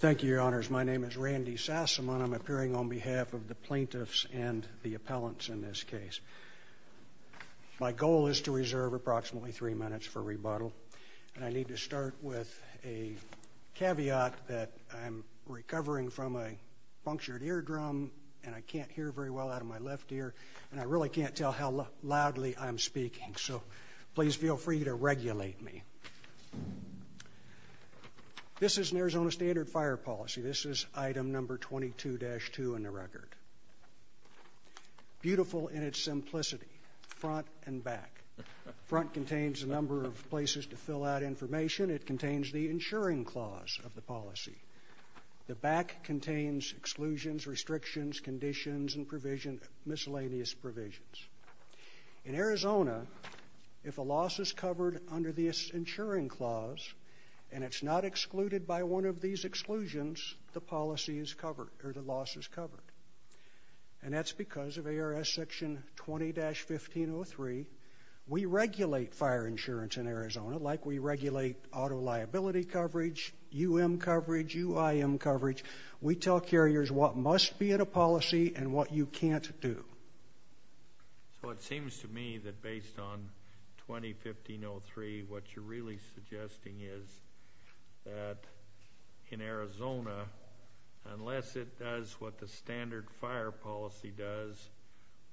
Thank you, Your Honors. My name is Randy Sassamon. I'm appearing on behalf of the plaintiffs and the appellants in this case. My goal is to reserve approximately three minutes for rebuttal and I need to start with a caveat that I'm recovering from a punctured eardrum and I can't hear very well out of my left ear and I really can't tell how loudly I'm speaking, so please feel free to regulate me. This is an Arizona standard fire policy. This is item number 22-2 in the record. Beautiful in its simplicity, front and back. Front contains a number of places to fill out information. It contains the insuring clause of the policy. The back contains exclusions, restrictions, conditions, and miscellaneous provisions. In Arizona, if a loss is covered under the insuring clause and it's not excluded by one of these exclusions, the policy is covered or the loss is covered. And that's because of ARS section 20-1503. We regulate fire insurance in Arizona like we regulate auto liability coverage, UM coverage, UIM coverage. We tell carriers what must be in a policy and what you can't do. So it seems to me that based on 20-1503, what you're really suggesting is that in Arizona, unless it does what the standard fire policy does,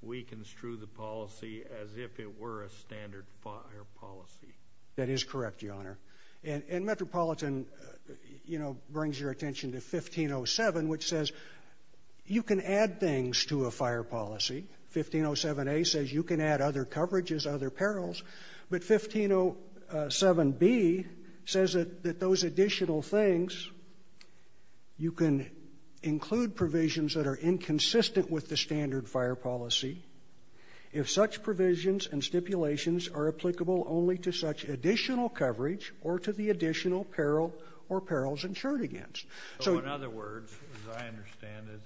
we construe the policy as if it were a standard fire policy. That is correct, Your Honor. And Metropolitan, you know, brings your attention to 1507, which says you can add things to a fire policy. 1507A says you can add other coverages, other perils. But 1507B says that those additional things, you can include provisions that are inconsistent with the standard fire policy. If such provisions and stipulations are applicable only to such additional coverage or to the additional peril or perils insured against. So in other words, as I understand it,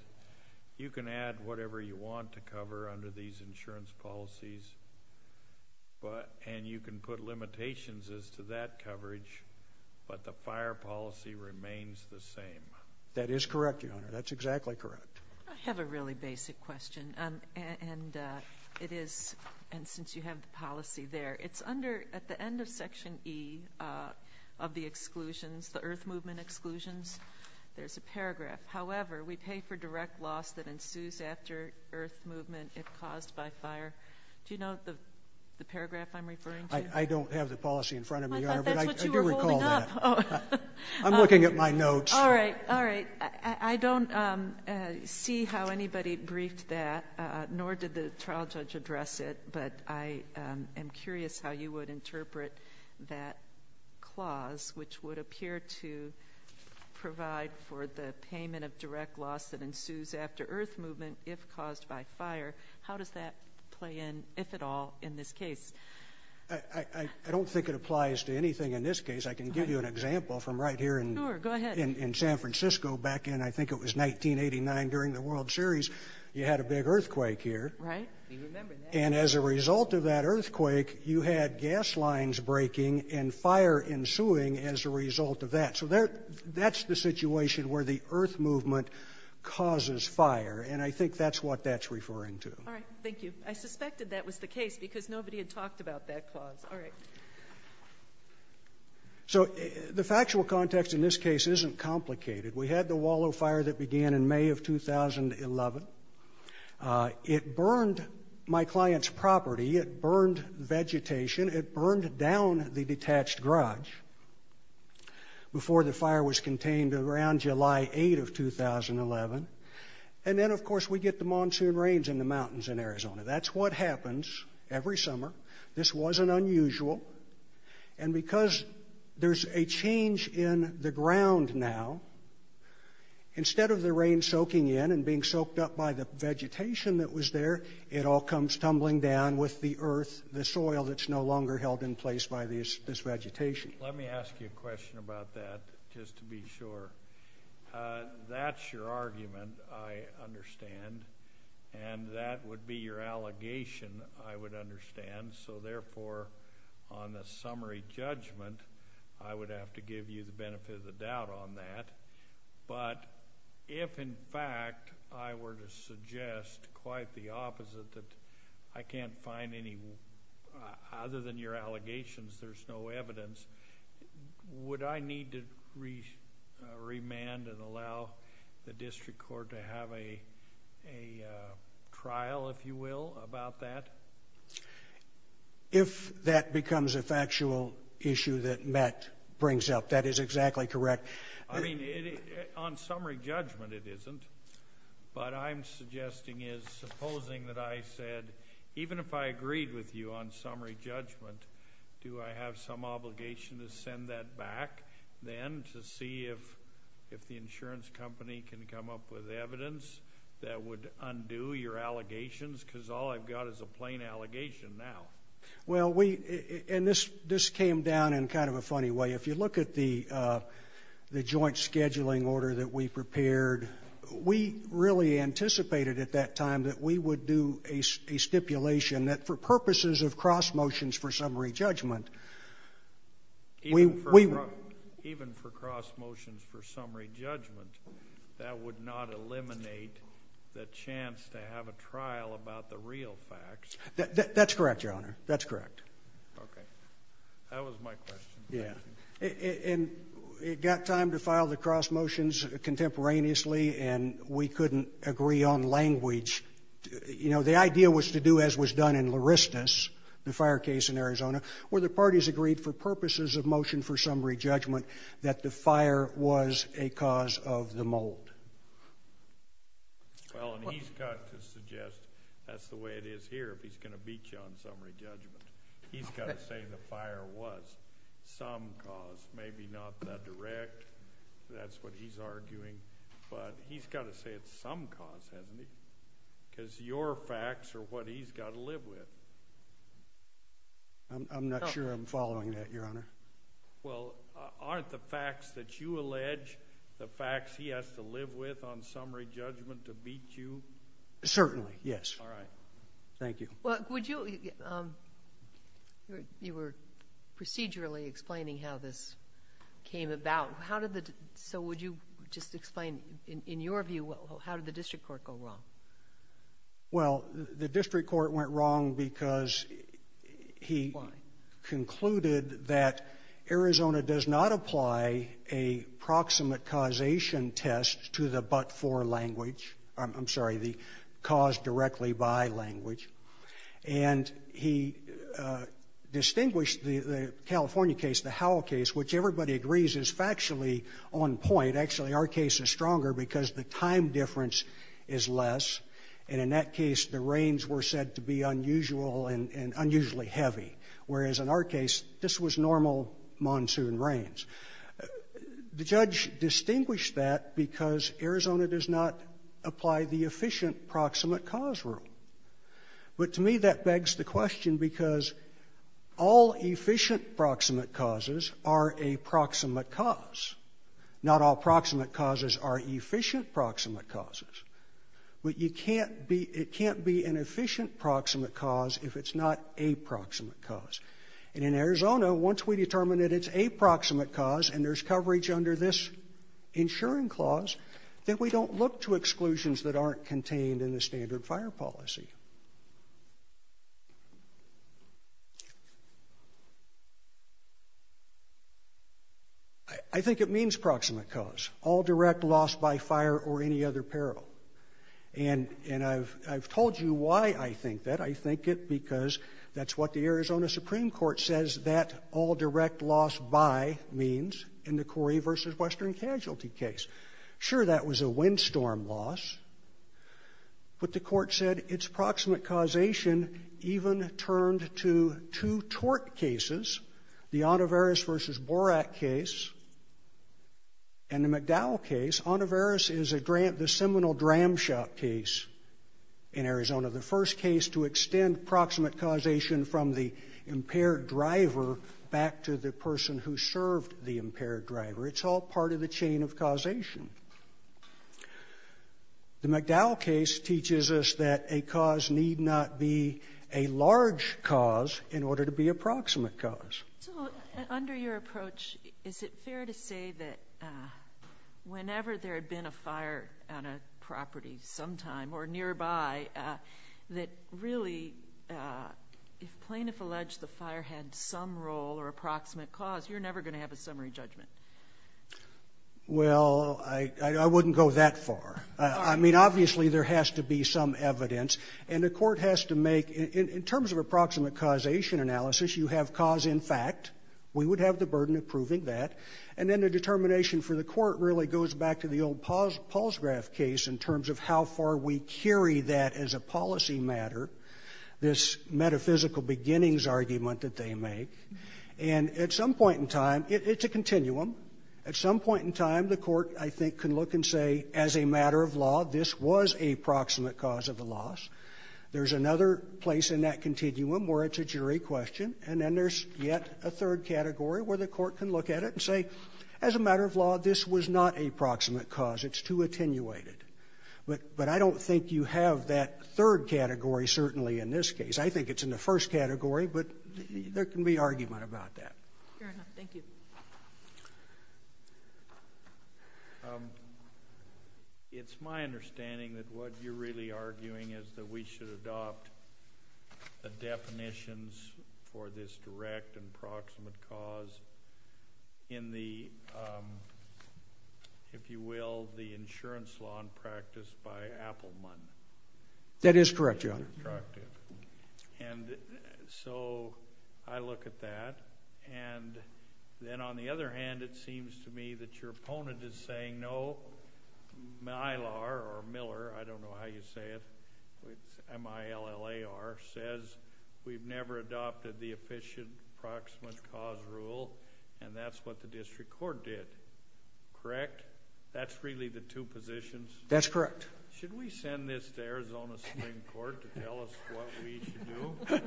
you can add whatever you want to cover under these insurance policies, and you can put limitations as to that coverage, but the fire policy remains the same. That is correct, Your Honor. That's exactly correct. I have a really basic question. And it is, and since you have the policy there, it's under, at the end of Section E of the exclusions, the Earth Movement exclusions, there's a paragraph. However, we pay for direct loss that ensues after Earth Movement if caused by fire. Do you know the paragraph I'm referring to? I don't have the policy in front of me, Your Honor, but I do recall that. I thought that's what you were holding up. I'm looking at my notes. All right. All right. I don't see how anybody briefed that, nor did the interpret that clause, which would appear to provide for the payment of direct loss that ensues after Earth Movement if caused by fire. How does that play in, if at all, in this case? I don't think it applies to anything in this case. I can give you an example from right here in San Francisco back in, I think it was 1989 during the World Series. You had a big earthquake here. Right. And as a result of that earthquake, you had gas lines breaking and fire ensuing as a result of that. So that's the situation where the Earth Movement causes fire. And I think that's what that's referring to. All right. Thank you. I suspected that was the case because nobody had talked about that clause. All right. So the factual context in this case isn't complicated. We had the Wallow Fire that began in May of 2011. It burned my client's property. It burned vegetation. It burned down the detached garage before the fire was contained around July 8th of 2011. And then, of course, we get the monsoon rains in the mountains in Arizona. That's what happens every summer. This wasn't unusual. And because there's a change in the ground now, instead of the rain soaking in and being soaked up by the vegetation that was there, it all comes tumbling down with the earth, the soil that's no longer held in place by this vegetation. Let me ask you a question about that just to be sure. That's your argument, I understand. And that would be your allegation, I would understand. So therefore, on the summary judgment, I would have to give you the benefit of the doubt on that. But if, in fact, I were to suggest quite the opposite, that I can't find any other than your allegations, there's no evidence, would I need to remand and allow the district court to have a trial, if you will, about that? If that becomes a factual issue that Matt brings up, that is exactly correct. I mean, on summary judgment it isn't. But I'm suggesting is, supposing that I said, even if I agreed with you on summary judgment, do I have some obligation to send that back then to see if the insurance company can come up with evidence that would undo your allegations? Because all I've got is a plain allegation now. Well, we, and this came down in kind of a funny way. If you look at the joint scheduling order that we prepared, we really anticipated at that time that we would do a stipulation that for purposes of cross motions for summary judgment, we would. Even for cross motions for summary judgment, that would not eliminate the chance to have a trial about the real facts. That's correct, Your Honor. That's correct. Okay. That was my question. Yeah. And it got time to file the cross motions contemporaneously and we couldn't agree on language. You know, the idea was to do as was done in Larristus, the fire case in Arizona, where the parties agreed for purposes of motion for summary judgment that the fire was a cause of the mold. Well, and he's got to suggest that's the way it is here if he's going to beat you on summary judgment. He's got to say the fire was some cause, maybe not the direct, that's what he's arguing, but he's got to say it's some cause, hasn't he? Because your facts are what he's got to live with. I'm not sure I'm following that, Your Honor. Well, aren't the facts that you allege the facts he has to live with on summary judgment to beat you? Certainly, yes. All right. Thank you. Well, would you, you were procedurally explaining how this came about. How did the, so would you just explain, in your view, how did the district court go wrong? Well, the district court went wrong because he concluded that Arizona does not apply a proximate causation test to the but-for language, I'm sorry, the cause directly by language. And he distinguished the California case, the Howell case, which everybody agrees is factually on point. Actually, our case is stronger because the time difference is less. And in that case, the reigns were said to be unusual and unusually heavy, whereas in our case, this was normal monsoon rains. The judge distinguished that because Arizona does not apply the efficient proximate cause rule. But to me, that begs the question because all efficient proximate causes are a proximate cause. Not all proximate causes are efficient proximate causes. But you can't be, it can't be an efficient proximate cause if it's not a proximate cause. And in Arizona, once we determine that it's a proximate cause and there's coverage under this insuring clause, that we don't look to exclusions that aren't contained in the standard fire policy. I think it means proximate cause, all direct loss by fire or any other peril. And I've told you why I think that. I think it because that's what the Arizona Supreme Court says that all direct loss by means in the Corrie v. Western Casualty case. Sure, that was a windstorm loss. But the court said its proximate causation even turned to two tort cases, the Ottovarus v. Borak case and the McDowell case. Ottovarus is a, the seminal dramshot case in Arizona. The first case to extend proximate causation from the impaired driver back to the person who served the impaired driver. It's all part of the chain of causation. The McDowell case teaches us that a cause need not be a large cause in order to be a proximate cause. So, under your approach, is it fair to say that whenever there had been a fire on a property sometime or nearby, that really, if plaintiff alleged the fire had some role or a proximate cause, you're never going to have a summary judgment? Well, I wouldn't go that far. I mean, obviously there has to be some evidence. And the court would have the burden of proving that. And then the determination for the court really goes back to the old Paul's graph case in terms of how far we carry that as a policy matter, this metaphysical beginnings argument that they make. And at some point in time it's a continuum. At some point in time the court, I think, can look and say, as a matter of law, this was a proximate cause of the loss. There's another place in that continuum where it's a jury question. And then there's yet a third category where the court can look at it and say, as a matter of law, this was not a proximate cause. It's too attenuated. But I don't think you have that third category, certainly, in this case. I think it's in the first category, but there can be argument about that. Fair enough. Thank you. It's my understanding that what you're really arguing is that we should adopt the definitions for this direct and proximate cause in the, if you will, the insurance law and practice by Appleman. That is correct, Your Honor. That's very attractive. And so I look at that, and then on the other hand it seems to me that your opponent is saying, no, Mylar, or Miller, I don't know how you say it, says we've never adopted the efficient proximate cause rule, and that's what the district court did. Correct? That's really the two positions? That's correct. Should we send this to Arizona Supreme Court to tell us what we should do?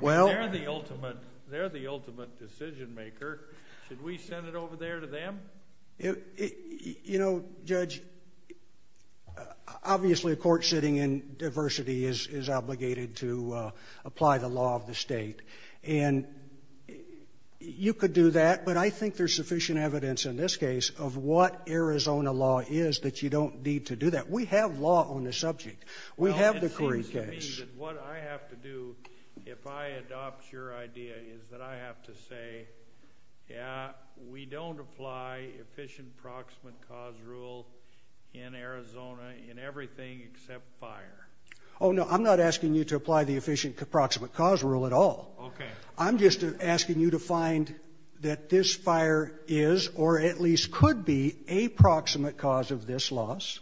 I mean, they're the ultimate decision maker. Should we send it over there to them? You know, Judge, obviously a court sitting in diversity is obligated to apply the law of the state. And you could do that, but I think there's sufficient evidence in this case of what Arizona law is that you don't need to do that. We have law on the subject. We have the Curry case. Well, it seems to me that what I have to do, if I adopt your idea, is that I have to say, yeah, we don't apply efficient proximate cause rule in Arizona in everything except fire. Oh, no, I'm not asking you to apply the efficient proximate cause rule at all. Okay. I'm just asking you to find that this fire is or at least could be a proximate cause of this loss.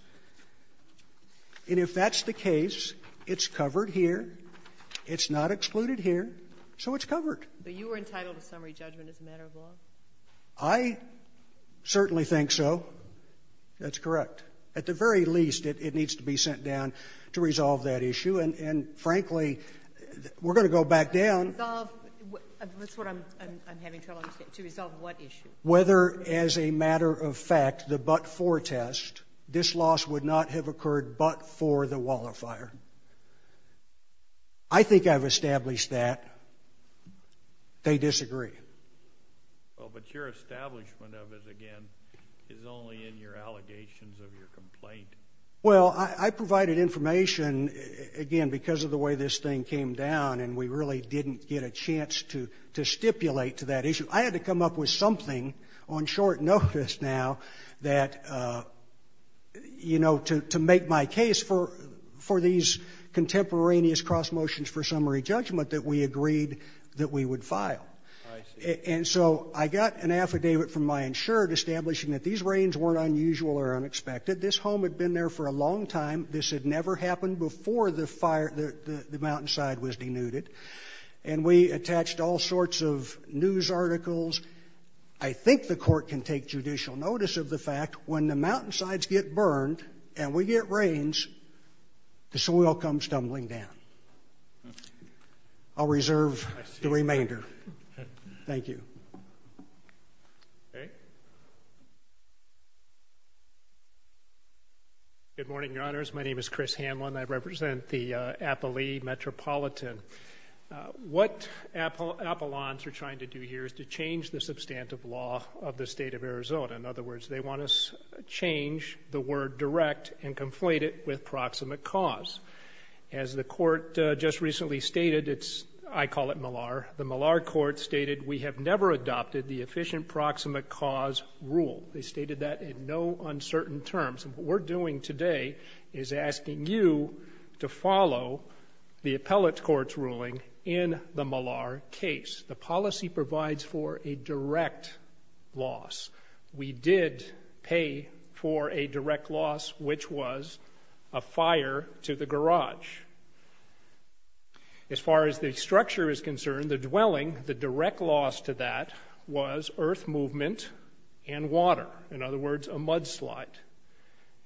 And if that's the case, it's covered here. It's not excluded here. So it's covered. But you are entitled to summary judgment as a matter of law? I certainly think so. That's correct. At the very least, it needs to be sent down to resolve that issue. And frankly, we're going to go back down. Resolve? That's what I'm having trouble understanding. To resolve what issue? Whether, as a matter of fact, the but-for test, this loss would not have occurred but-for the wildfire. I think I've established that. They disagree. Well, but your establishment of it, again, is only in your allegations of your complaint. Well, I provided information, again, because of the way this thing came down, and we really didn't get a chance to stipulate to that issue. I had to come up with something on short notice now that, you know, to make my case for these contemporaneous cross motions for summary judgment that we agreed that we would file. I see. And so I got an affidavit from my insured establishing that these rains weren't unusual or unexpected. This home had been there for a long time. This had never happened before the mountainside was denuded. And we attached all sorts of news articles. I think the court can take judicial notice of the fact, when the mountainsides get burned and we get rains, the soil comes tumbling down. I'll reserve the remainder. Thank you. Okay. Good morning, Your Honors. My name is Chris Hanlon. I represent the Appalee Metropolitan. What Apollons are trying to do here is to change the substantive law of the state of Arizona. In other words, they want to change the word direct and conflate it with proximate cause. As the court just recently stated, it's – I call it MALAR – the MALAR court stated, we have never adopted the efficient proximate cause rule. They stated that in no uncertain terms. And what we're doing today is asking you to follow the appellate court's ruling in the MALAR case. The policy provides for a direct loss. We did pay for a direct loss, which was a fire to the garage. As far as the structure is concerned, the dwelling, the direct loss to that was earth movement and water. In other words, a mudslide.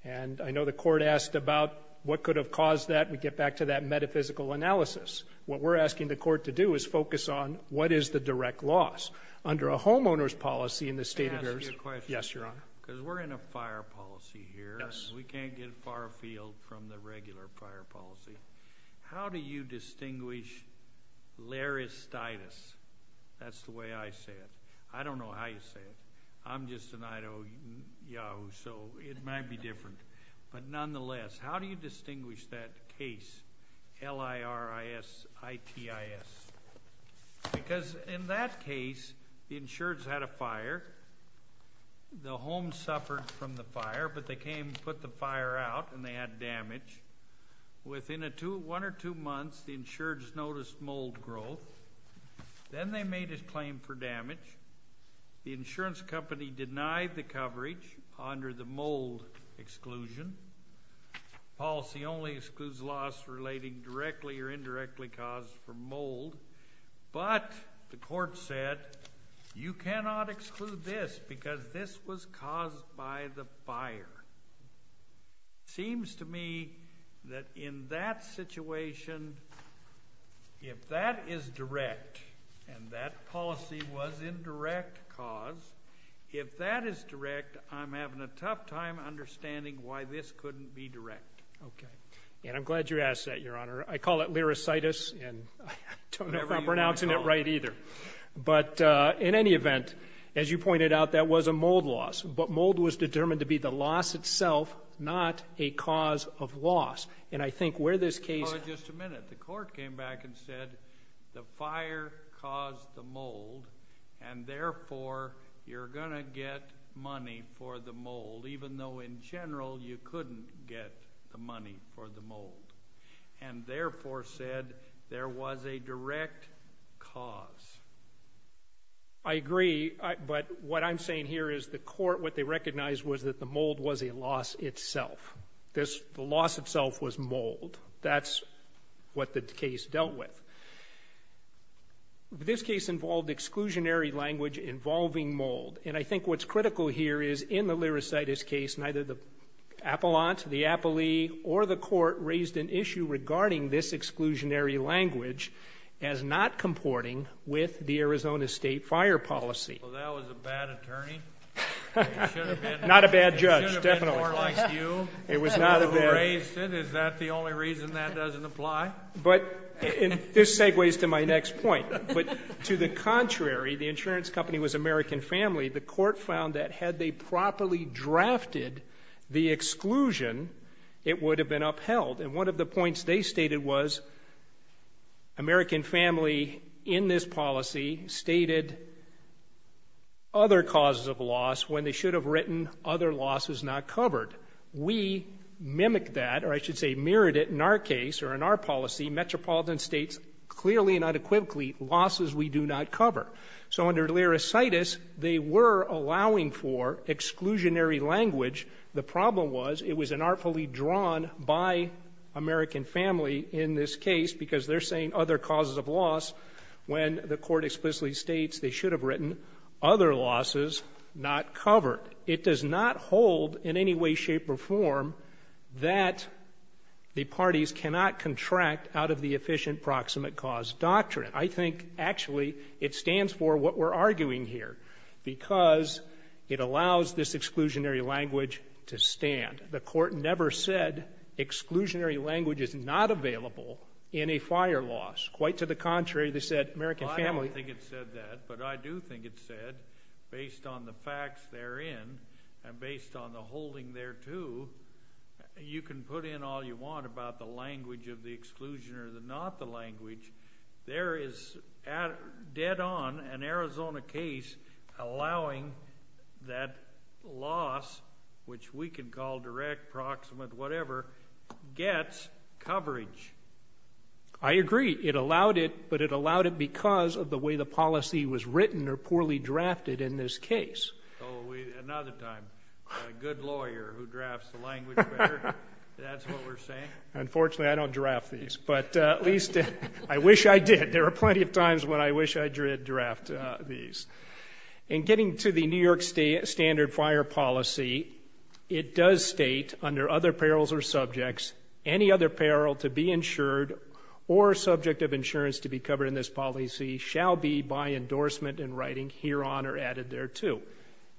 And I know the court asked about what could have caused that. We get back to that metaphysical analysis. What we're asking the court to do is focus on what is the direct loss. Under a homeowner's policy in the state of Arizona – Yes, Your Honor. Because we're in a fire policy here. Yes. We can't get far afield from the regular fire policy. How do you distinguish larestitis? That's the way I say it. I don't know how you say it. I'm just an Idaho Yahoo, so it might be different. But nonetheless, how do you distinguish that case? L-I-R-I-S-I-T-I-S. Because in that case, the insureds had a fire. The home suffered from the fire, but they came and put the fire out, and they had damage. Within one or two months, the insureds noticed mold growth. Then they made a claim for damage. The insurance company denied the coverage under the policy, which excludes loss relating directly or indirectly caused from mold. But the court said, you cannot exclude this because this was caused by the fire. Seems to me that in that situation, if that is direct, and that policy was in direct cause, if that is direct, I'm having a tough time understanding why this couldn't be direct. Okay. And I'm glad you asked that, Your Honor. I call it larestitis, and I don't know if I'm pronouncing it right either. But in any event, as you pointed out, that was a mold loss. But mold was determined to be the loss itself, not a cause of loss. And I think where this case... Just a minute. The court came back and said, the fire caused the mold, and therefore, you're going to get money for the mold, even though in general, you couldn't get the money for the mold. And therefore said, there was a direct cause. I agree, but what I'm saying here is the court, what they recognized was that the mold was a loss itself. The loss itself was mold. That's what the case dealt with. This case involved exclusionary language involving mold. And I think what's critical here is, in the larestitis case, neither the appellant, the appellee, or the court raised an issue regarding this exclusionary language as not comporting with the Arizona State fire policy. Well, that was a bad attorney. Not a bad judge, definitely. It should have been more like you, the one who raised it. Is that the only reason that doesn't apply? This segues to my next point. But to the contrary, the insurance company was American Family. The court found that had they properly drafted the exclusion, it would have been upheld. And one of the points they stated was, American Family, in this policy, stated other causes of loss when they should have written other losses not covered. We mimicked that, or I should say, mirrored it in our case, or in our policy. Metropolitan States, clearly and unequivocally, losses we do not cover. So under larestitis, they were allowing for exclusionary language. The problem was it was unartfully drawn by American Family in this case, because they're saying other causes of loss when the court explicitly states they should have written other losses not covered. It does not hold in any way, shape, or form that the parties cannot contract out of the efficient proximate cause doctrine. I think actually it stands for what we're arguing here, because it allows this exclusionary language to stand. The court never said exclusionary language is not available in a fire loss. Quite to the contrary, they said American Family. I don't think it said that, but I do think it said, based on the facts therein, and based on the holding thereto, you can put in all you want about the language of the exclusion or not the language. There is, dead on, an Arizona case allowing that loss, which we can call direct, proximate, whatever, gets coverage. I agree. It allowed it, but it allowed it because of the way the policy was written or poorly drafted in this case. Another time, a good lawyer who drafts the language better, that's what we're saying. Unfortunately, I don't draft these, but at least I wish I did. There are plenty of times when I wish I did draft these. In getting to the New York State standard fire policy, it does state under other perils or subjects, any other peril to be insured or subject of insurance to be covered in this policy shall be by endorsement in writing hereon or added thereto.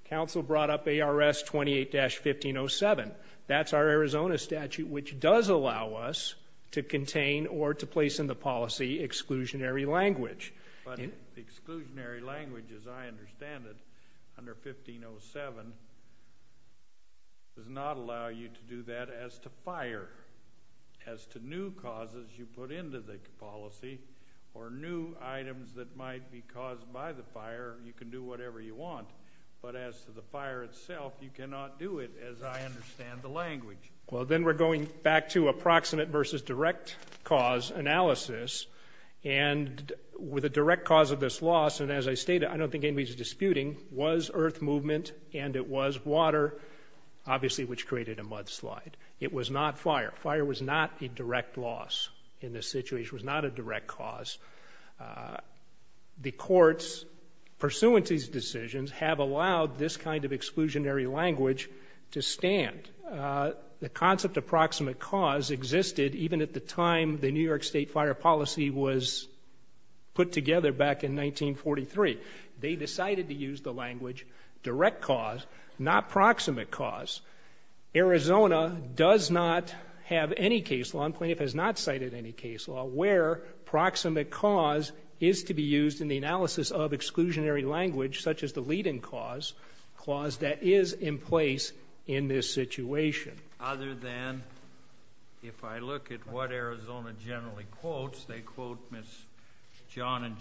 Council brought up ARS 28-1507. That's our Arizona statute, which does allow us to contain or to place in the policy exclusionary language. But exclusionary language, as I understand it, under 1507, does not allow you to do that as to the new causes you put into the policy or new items that might be caused by the fire. You can do whatever you want, but as to the fire itself, you cannot do it, as I understand the language. Well, then we're going back to approximate versus direct cause analysis. And with a direct cause of this loss, and as I stated, I don't think anybody's disputing, was earth movement and it was water, obviously, which created a mudslide. It was not fire. Fire was not a direct loss in this situation. It was not a direct cause. The courts, pursuant to these decisions, have allowed this kind of exclusionary language to stand. The concept of approximate cause existed even at the time the New York State fire policy was put together back in 1943. They decided to use the language direct cause, not approximate cause. Arizona does not have any case law, and plaintiff has not cited any case law, where proximate cause is to be used in the analysis of exclusionary language, such as the leading cause, clause that is in place in this situation. Other than, if I look at what Arizona generally quotes, they quote Ms. John and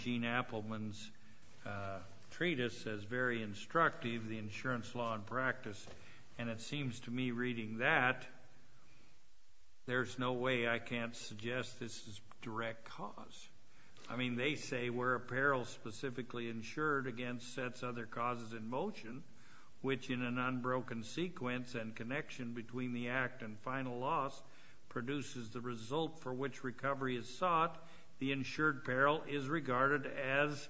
Justice, and it seems to me reading that, there's no way I can't suggest this is direct cause. I mean, they say, where apparel specifically insured against sets other causes in motion, which in an unbroken sequence and connection between the act and final loss produces the result for which recovery is sought, the insured apparel is regarded as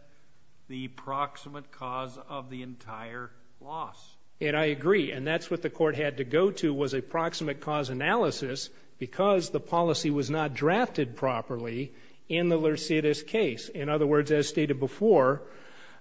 the proximate cause of the entire loss. And I agree, and that's what the court had to go to was a proximate cause analysis, because the policy was not drafted properly in the Lercetis case. In other words, as stated before,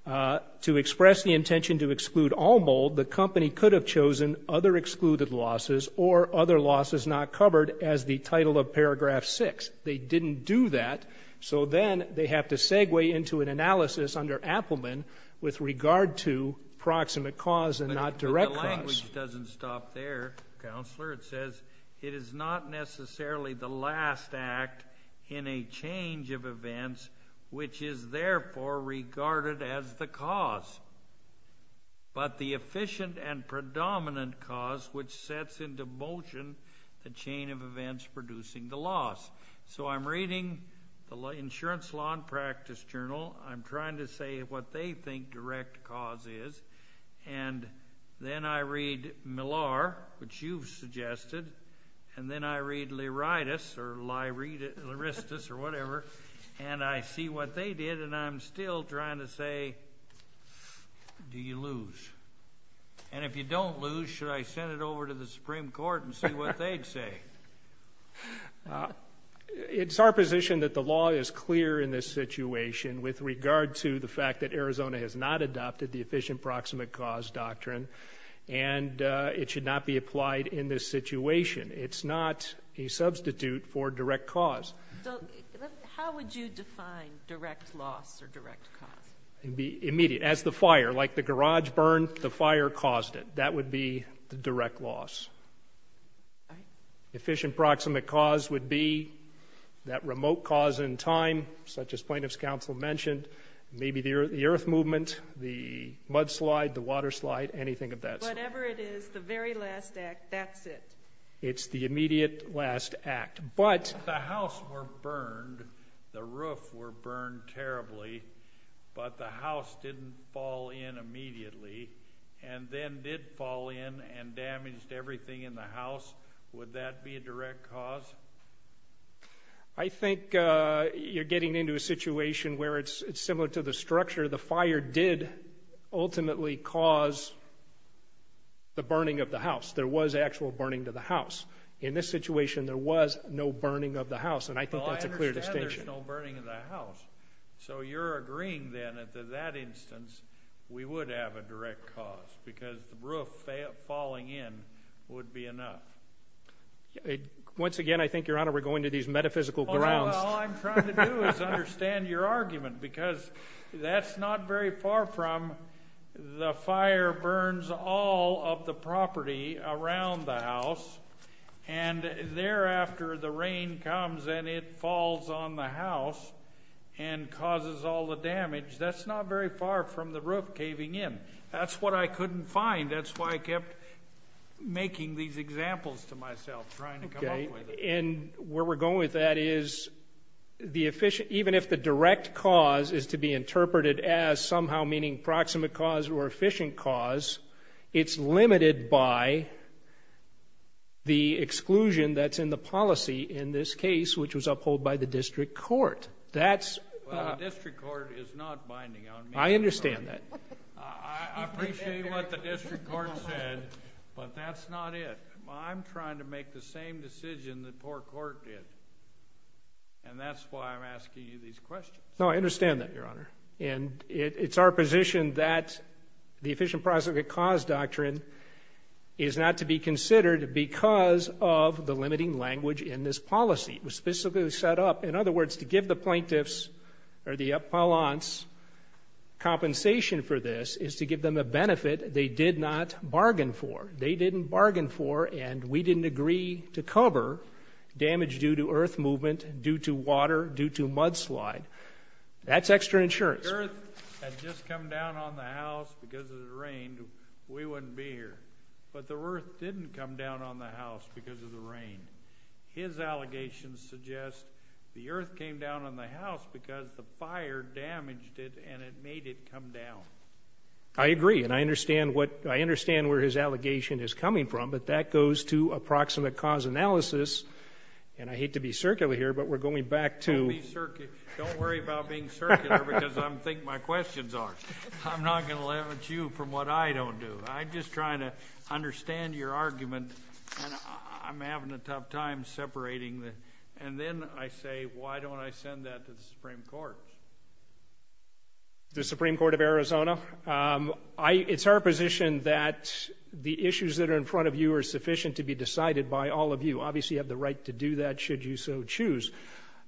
to express the intention to exclude all mold, the company could have chosen other excluded losses or other losses not covered as the title of paragraph six. They didn't do that, so then they have to segue into an analysis under Appelman with regard to proximate cause and not direct cause. But the language doesn't stop there, Counselor. It says, it is not necessarily the last act in a change of events, which is therefore regarded as the cause, but the efficient and predominant cause which sets into motion the chain of events producing the loss. So I'm reading the insurance law and practice journal. I'm trying to say what they think direct cause is, and then I read Millar, which you've suggested, and then I read Appelman, and I'm still trying to say, do you lose? And if you don't lose, should I send it over to the Supreme Court and see what they'd say? It's our position that the law is clear in this situation with regard to the fact that Arizona has not adopted the efficient proximate cause doctrine, and it should not be applied in this direct cause. As the fire, like the garage burned, the fire caused it. That would be the direct loss. Efficient proximate cause would be that remote cause in time, such as Plaintiff's Counsel mentioned, maybe the earth movement, the mud slide, the water slide, anything of that sort. Whatever it is, the very last act, that's it. It's the house didn't fall in immediately, and then did fall in and damaged everything in the house. Would that be a direct cause? I think you're getting into a situation where it's similar to the structure. The fire did ultimately cause the burning of the house. There was actual burning to the house. In this situation, there was no burning of the house, and I think that's a clear distinction. So you're agreeing then that in that instance, we would have a direct cause, because the roof falling in would be enough. Once again, I think, Your Honor, we're going to these metaphysical grounds. All I'm trying to do is understand your argument, because that's not very far from the fire burns all of the property around the house, and thereafter the rain comes and it falls on the house and causes all the damage. That's not very far from the roof caving in. That's what I couldn't find. That's why I kept making these examples to myself, trying to come up with them. And where we're going with that is, even if the direct cause is to be interpreted as somehow meaning proximate cause or efficient cause, it's limited by the exclusion that's in the policy in this case, which was upheld by the district court. The district court is not binding on me. I understand that. I appreciate what the district court said, but that's not it. I'm trying to make the same decision the poor court did, and that's why I'm asking you these questions. No, I understand that, Your Honor. And it's our position that the efficient proximate cause doctrine is not to be considered because of the limiting language in this policy. It was specifically set up, in other words, to give the plaintiffs or the appellants compensation for this is to give them a benefit they did not bargain for. They didn't bargain for, and we didn't agree to cover damage due to earth movement, due to water, due to mudslide. That's extra insurance. If the earth had just come down on the house because of the rain, we wouldn't be here. But the earth didn't come down on the house because of the rain. His allegations suggest the earth came down on the house because the fire damaged it and it made it come down. I agree, and I understand where his allegation is coming from, but that goes to approximate cause analysis, and I hate to be circular here, but we're going back to Don't worry about being circular, because I think my questions are. I'm not going to understand your argument, and I'm having a tough time separating. And then I say why don't I send that to the Supreme Court? The Supreme Court of Arizona? It's our position that the issues that are in front of you are sufficient to be decided by all of you. Obviously, you have the right to do that should you so choose.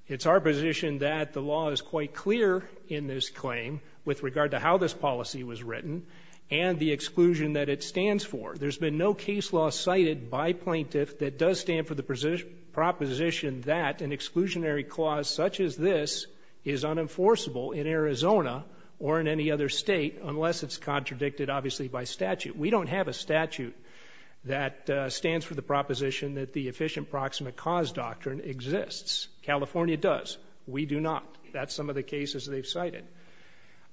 It's our position that the law is quite clear in this claim with regard to how this policy was written and the exclusion that it stands for. There's been no case law cited by plaintiff that does stand for the proposition that an exclusionary clause such as this is unenforceable in Arizona or in any other state unless it's contradicted, obviously, by statute. We don't have a statute that stands for the proposition that the efficient proximate cause doctrine exists. California does. We do not. That's some of the cases they've cited.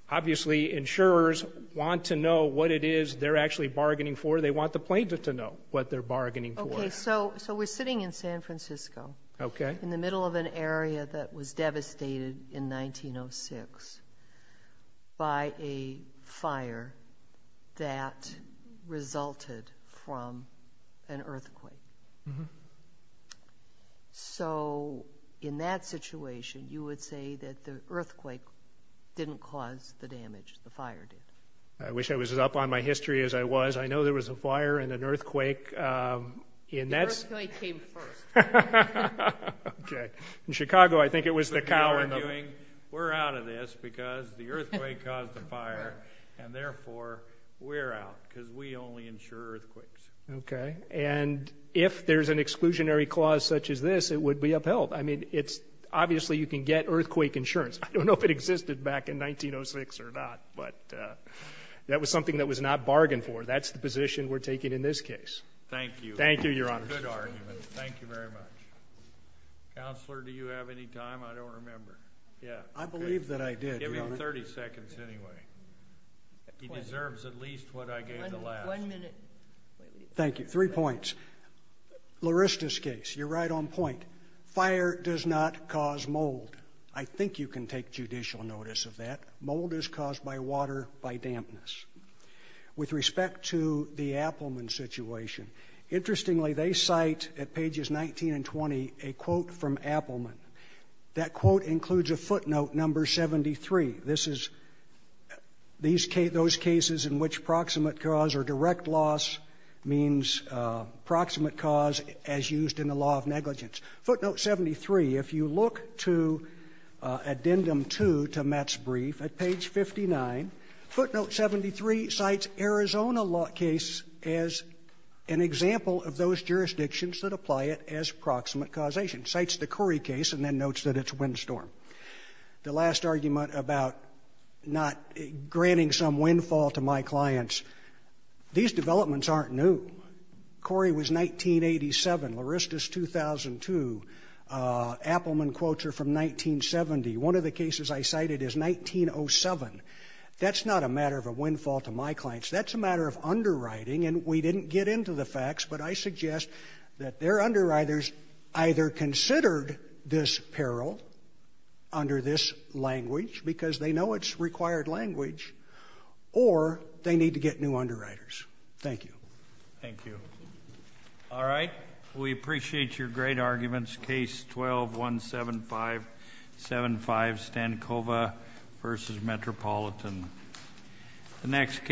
Obviously, insurers want to know what it is they're actually bargaining for. They want the plaintiff to know what they're bargaining for. Okay, so we're sitting in San Francisco in the middle of an area that was devastated in 1906 by a fire that resulted from an earthquake. So in that situation, you would say that the earthquake didn't cause the damage. The fire did. I wish I was as up on my history as I was. I know there was a fire and an earthquake. The earthquake came first. Okay. In Chicago, I think it was the cowering. We're out of this because the earthquake caused the fire, and therefore, we're out because we only insure earthquakes. Okay. And if there's an exclusionary clause such as this, it would be upheld. I mean, it's obviously you can get earthquake insurance. I don't know if it existed back in 1906 or not, but that was something that was not bargained for. That's the position we're taking in this case. Thank you. Thank you, Your Honor. Good argument. Thank you very much. Counselor, do you have any time? I don't remember. Yeah. I believe that I did, Your Honor. Give him 30 seconds anyway. He deserves at least what I gave the last. One minute. Thank you. Three points. Larista's case. You're right on point. Fire does not cause mold. I think you can take judicial notice of that. Mold is caused by water, by dampness. With respect to the Appelman situation, interestingly, they cite at pages 19 and 20 a quote from Appelman. That quote includes a footnote, number 73. This is those cases in which proximate cause or direct loss means proximate cause as used in the law of negligence. Footnote 73. If you look to Addendum 2 to Matt's brief at page 59, footnote 73 cites Arizona case as an example of those jurisdictions that apply it as proximate causation. Cites the Curry case and then notes that it's windstorm. The last argument about not granting some windfall to my clients, these developments aren't new. Curry was 1987. Larista's 2002. Appelman quotes are from 1970. One of the cases I cited is 1907. That's not a matter of a windfall to my clients. That's a matter of underwriting. And we didn't get into the facts, but I suggest that their underwriters either considered this peril under this language, because they know it's required language, or they need to get new underwriters. Thank you. Thank you. All right. We appreciate your great arguments. Case 12-17575, Stankova v. Metropolitan. The next case.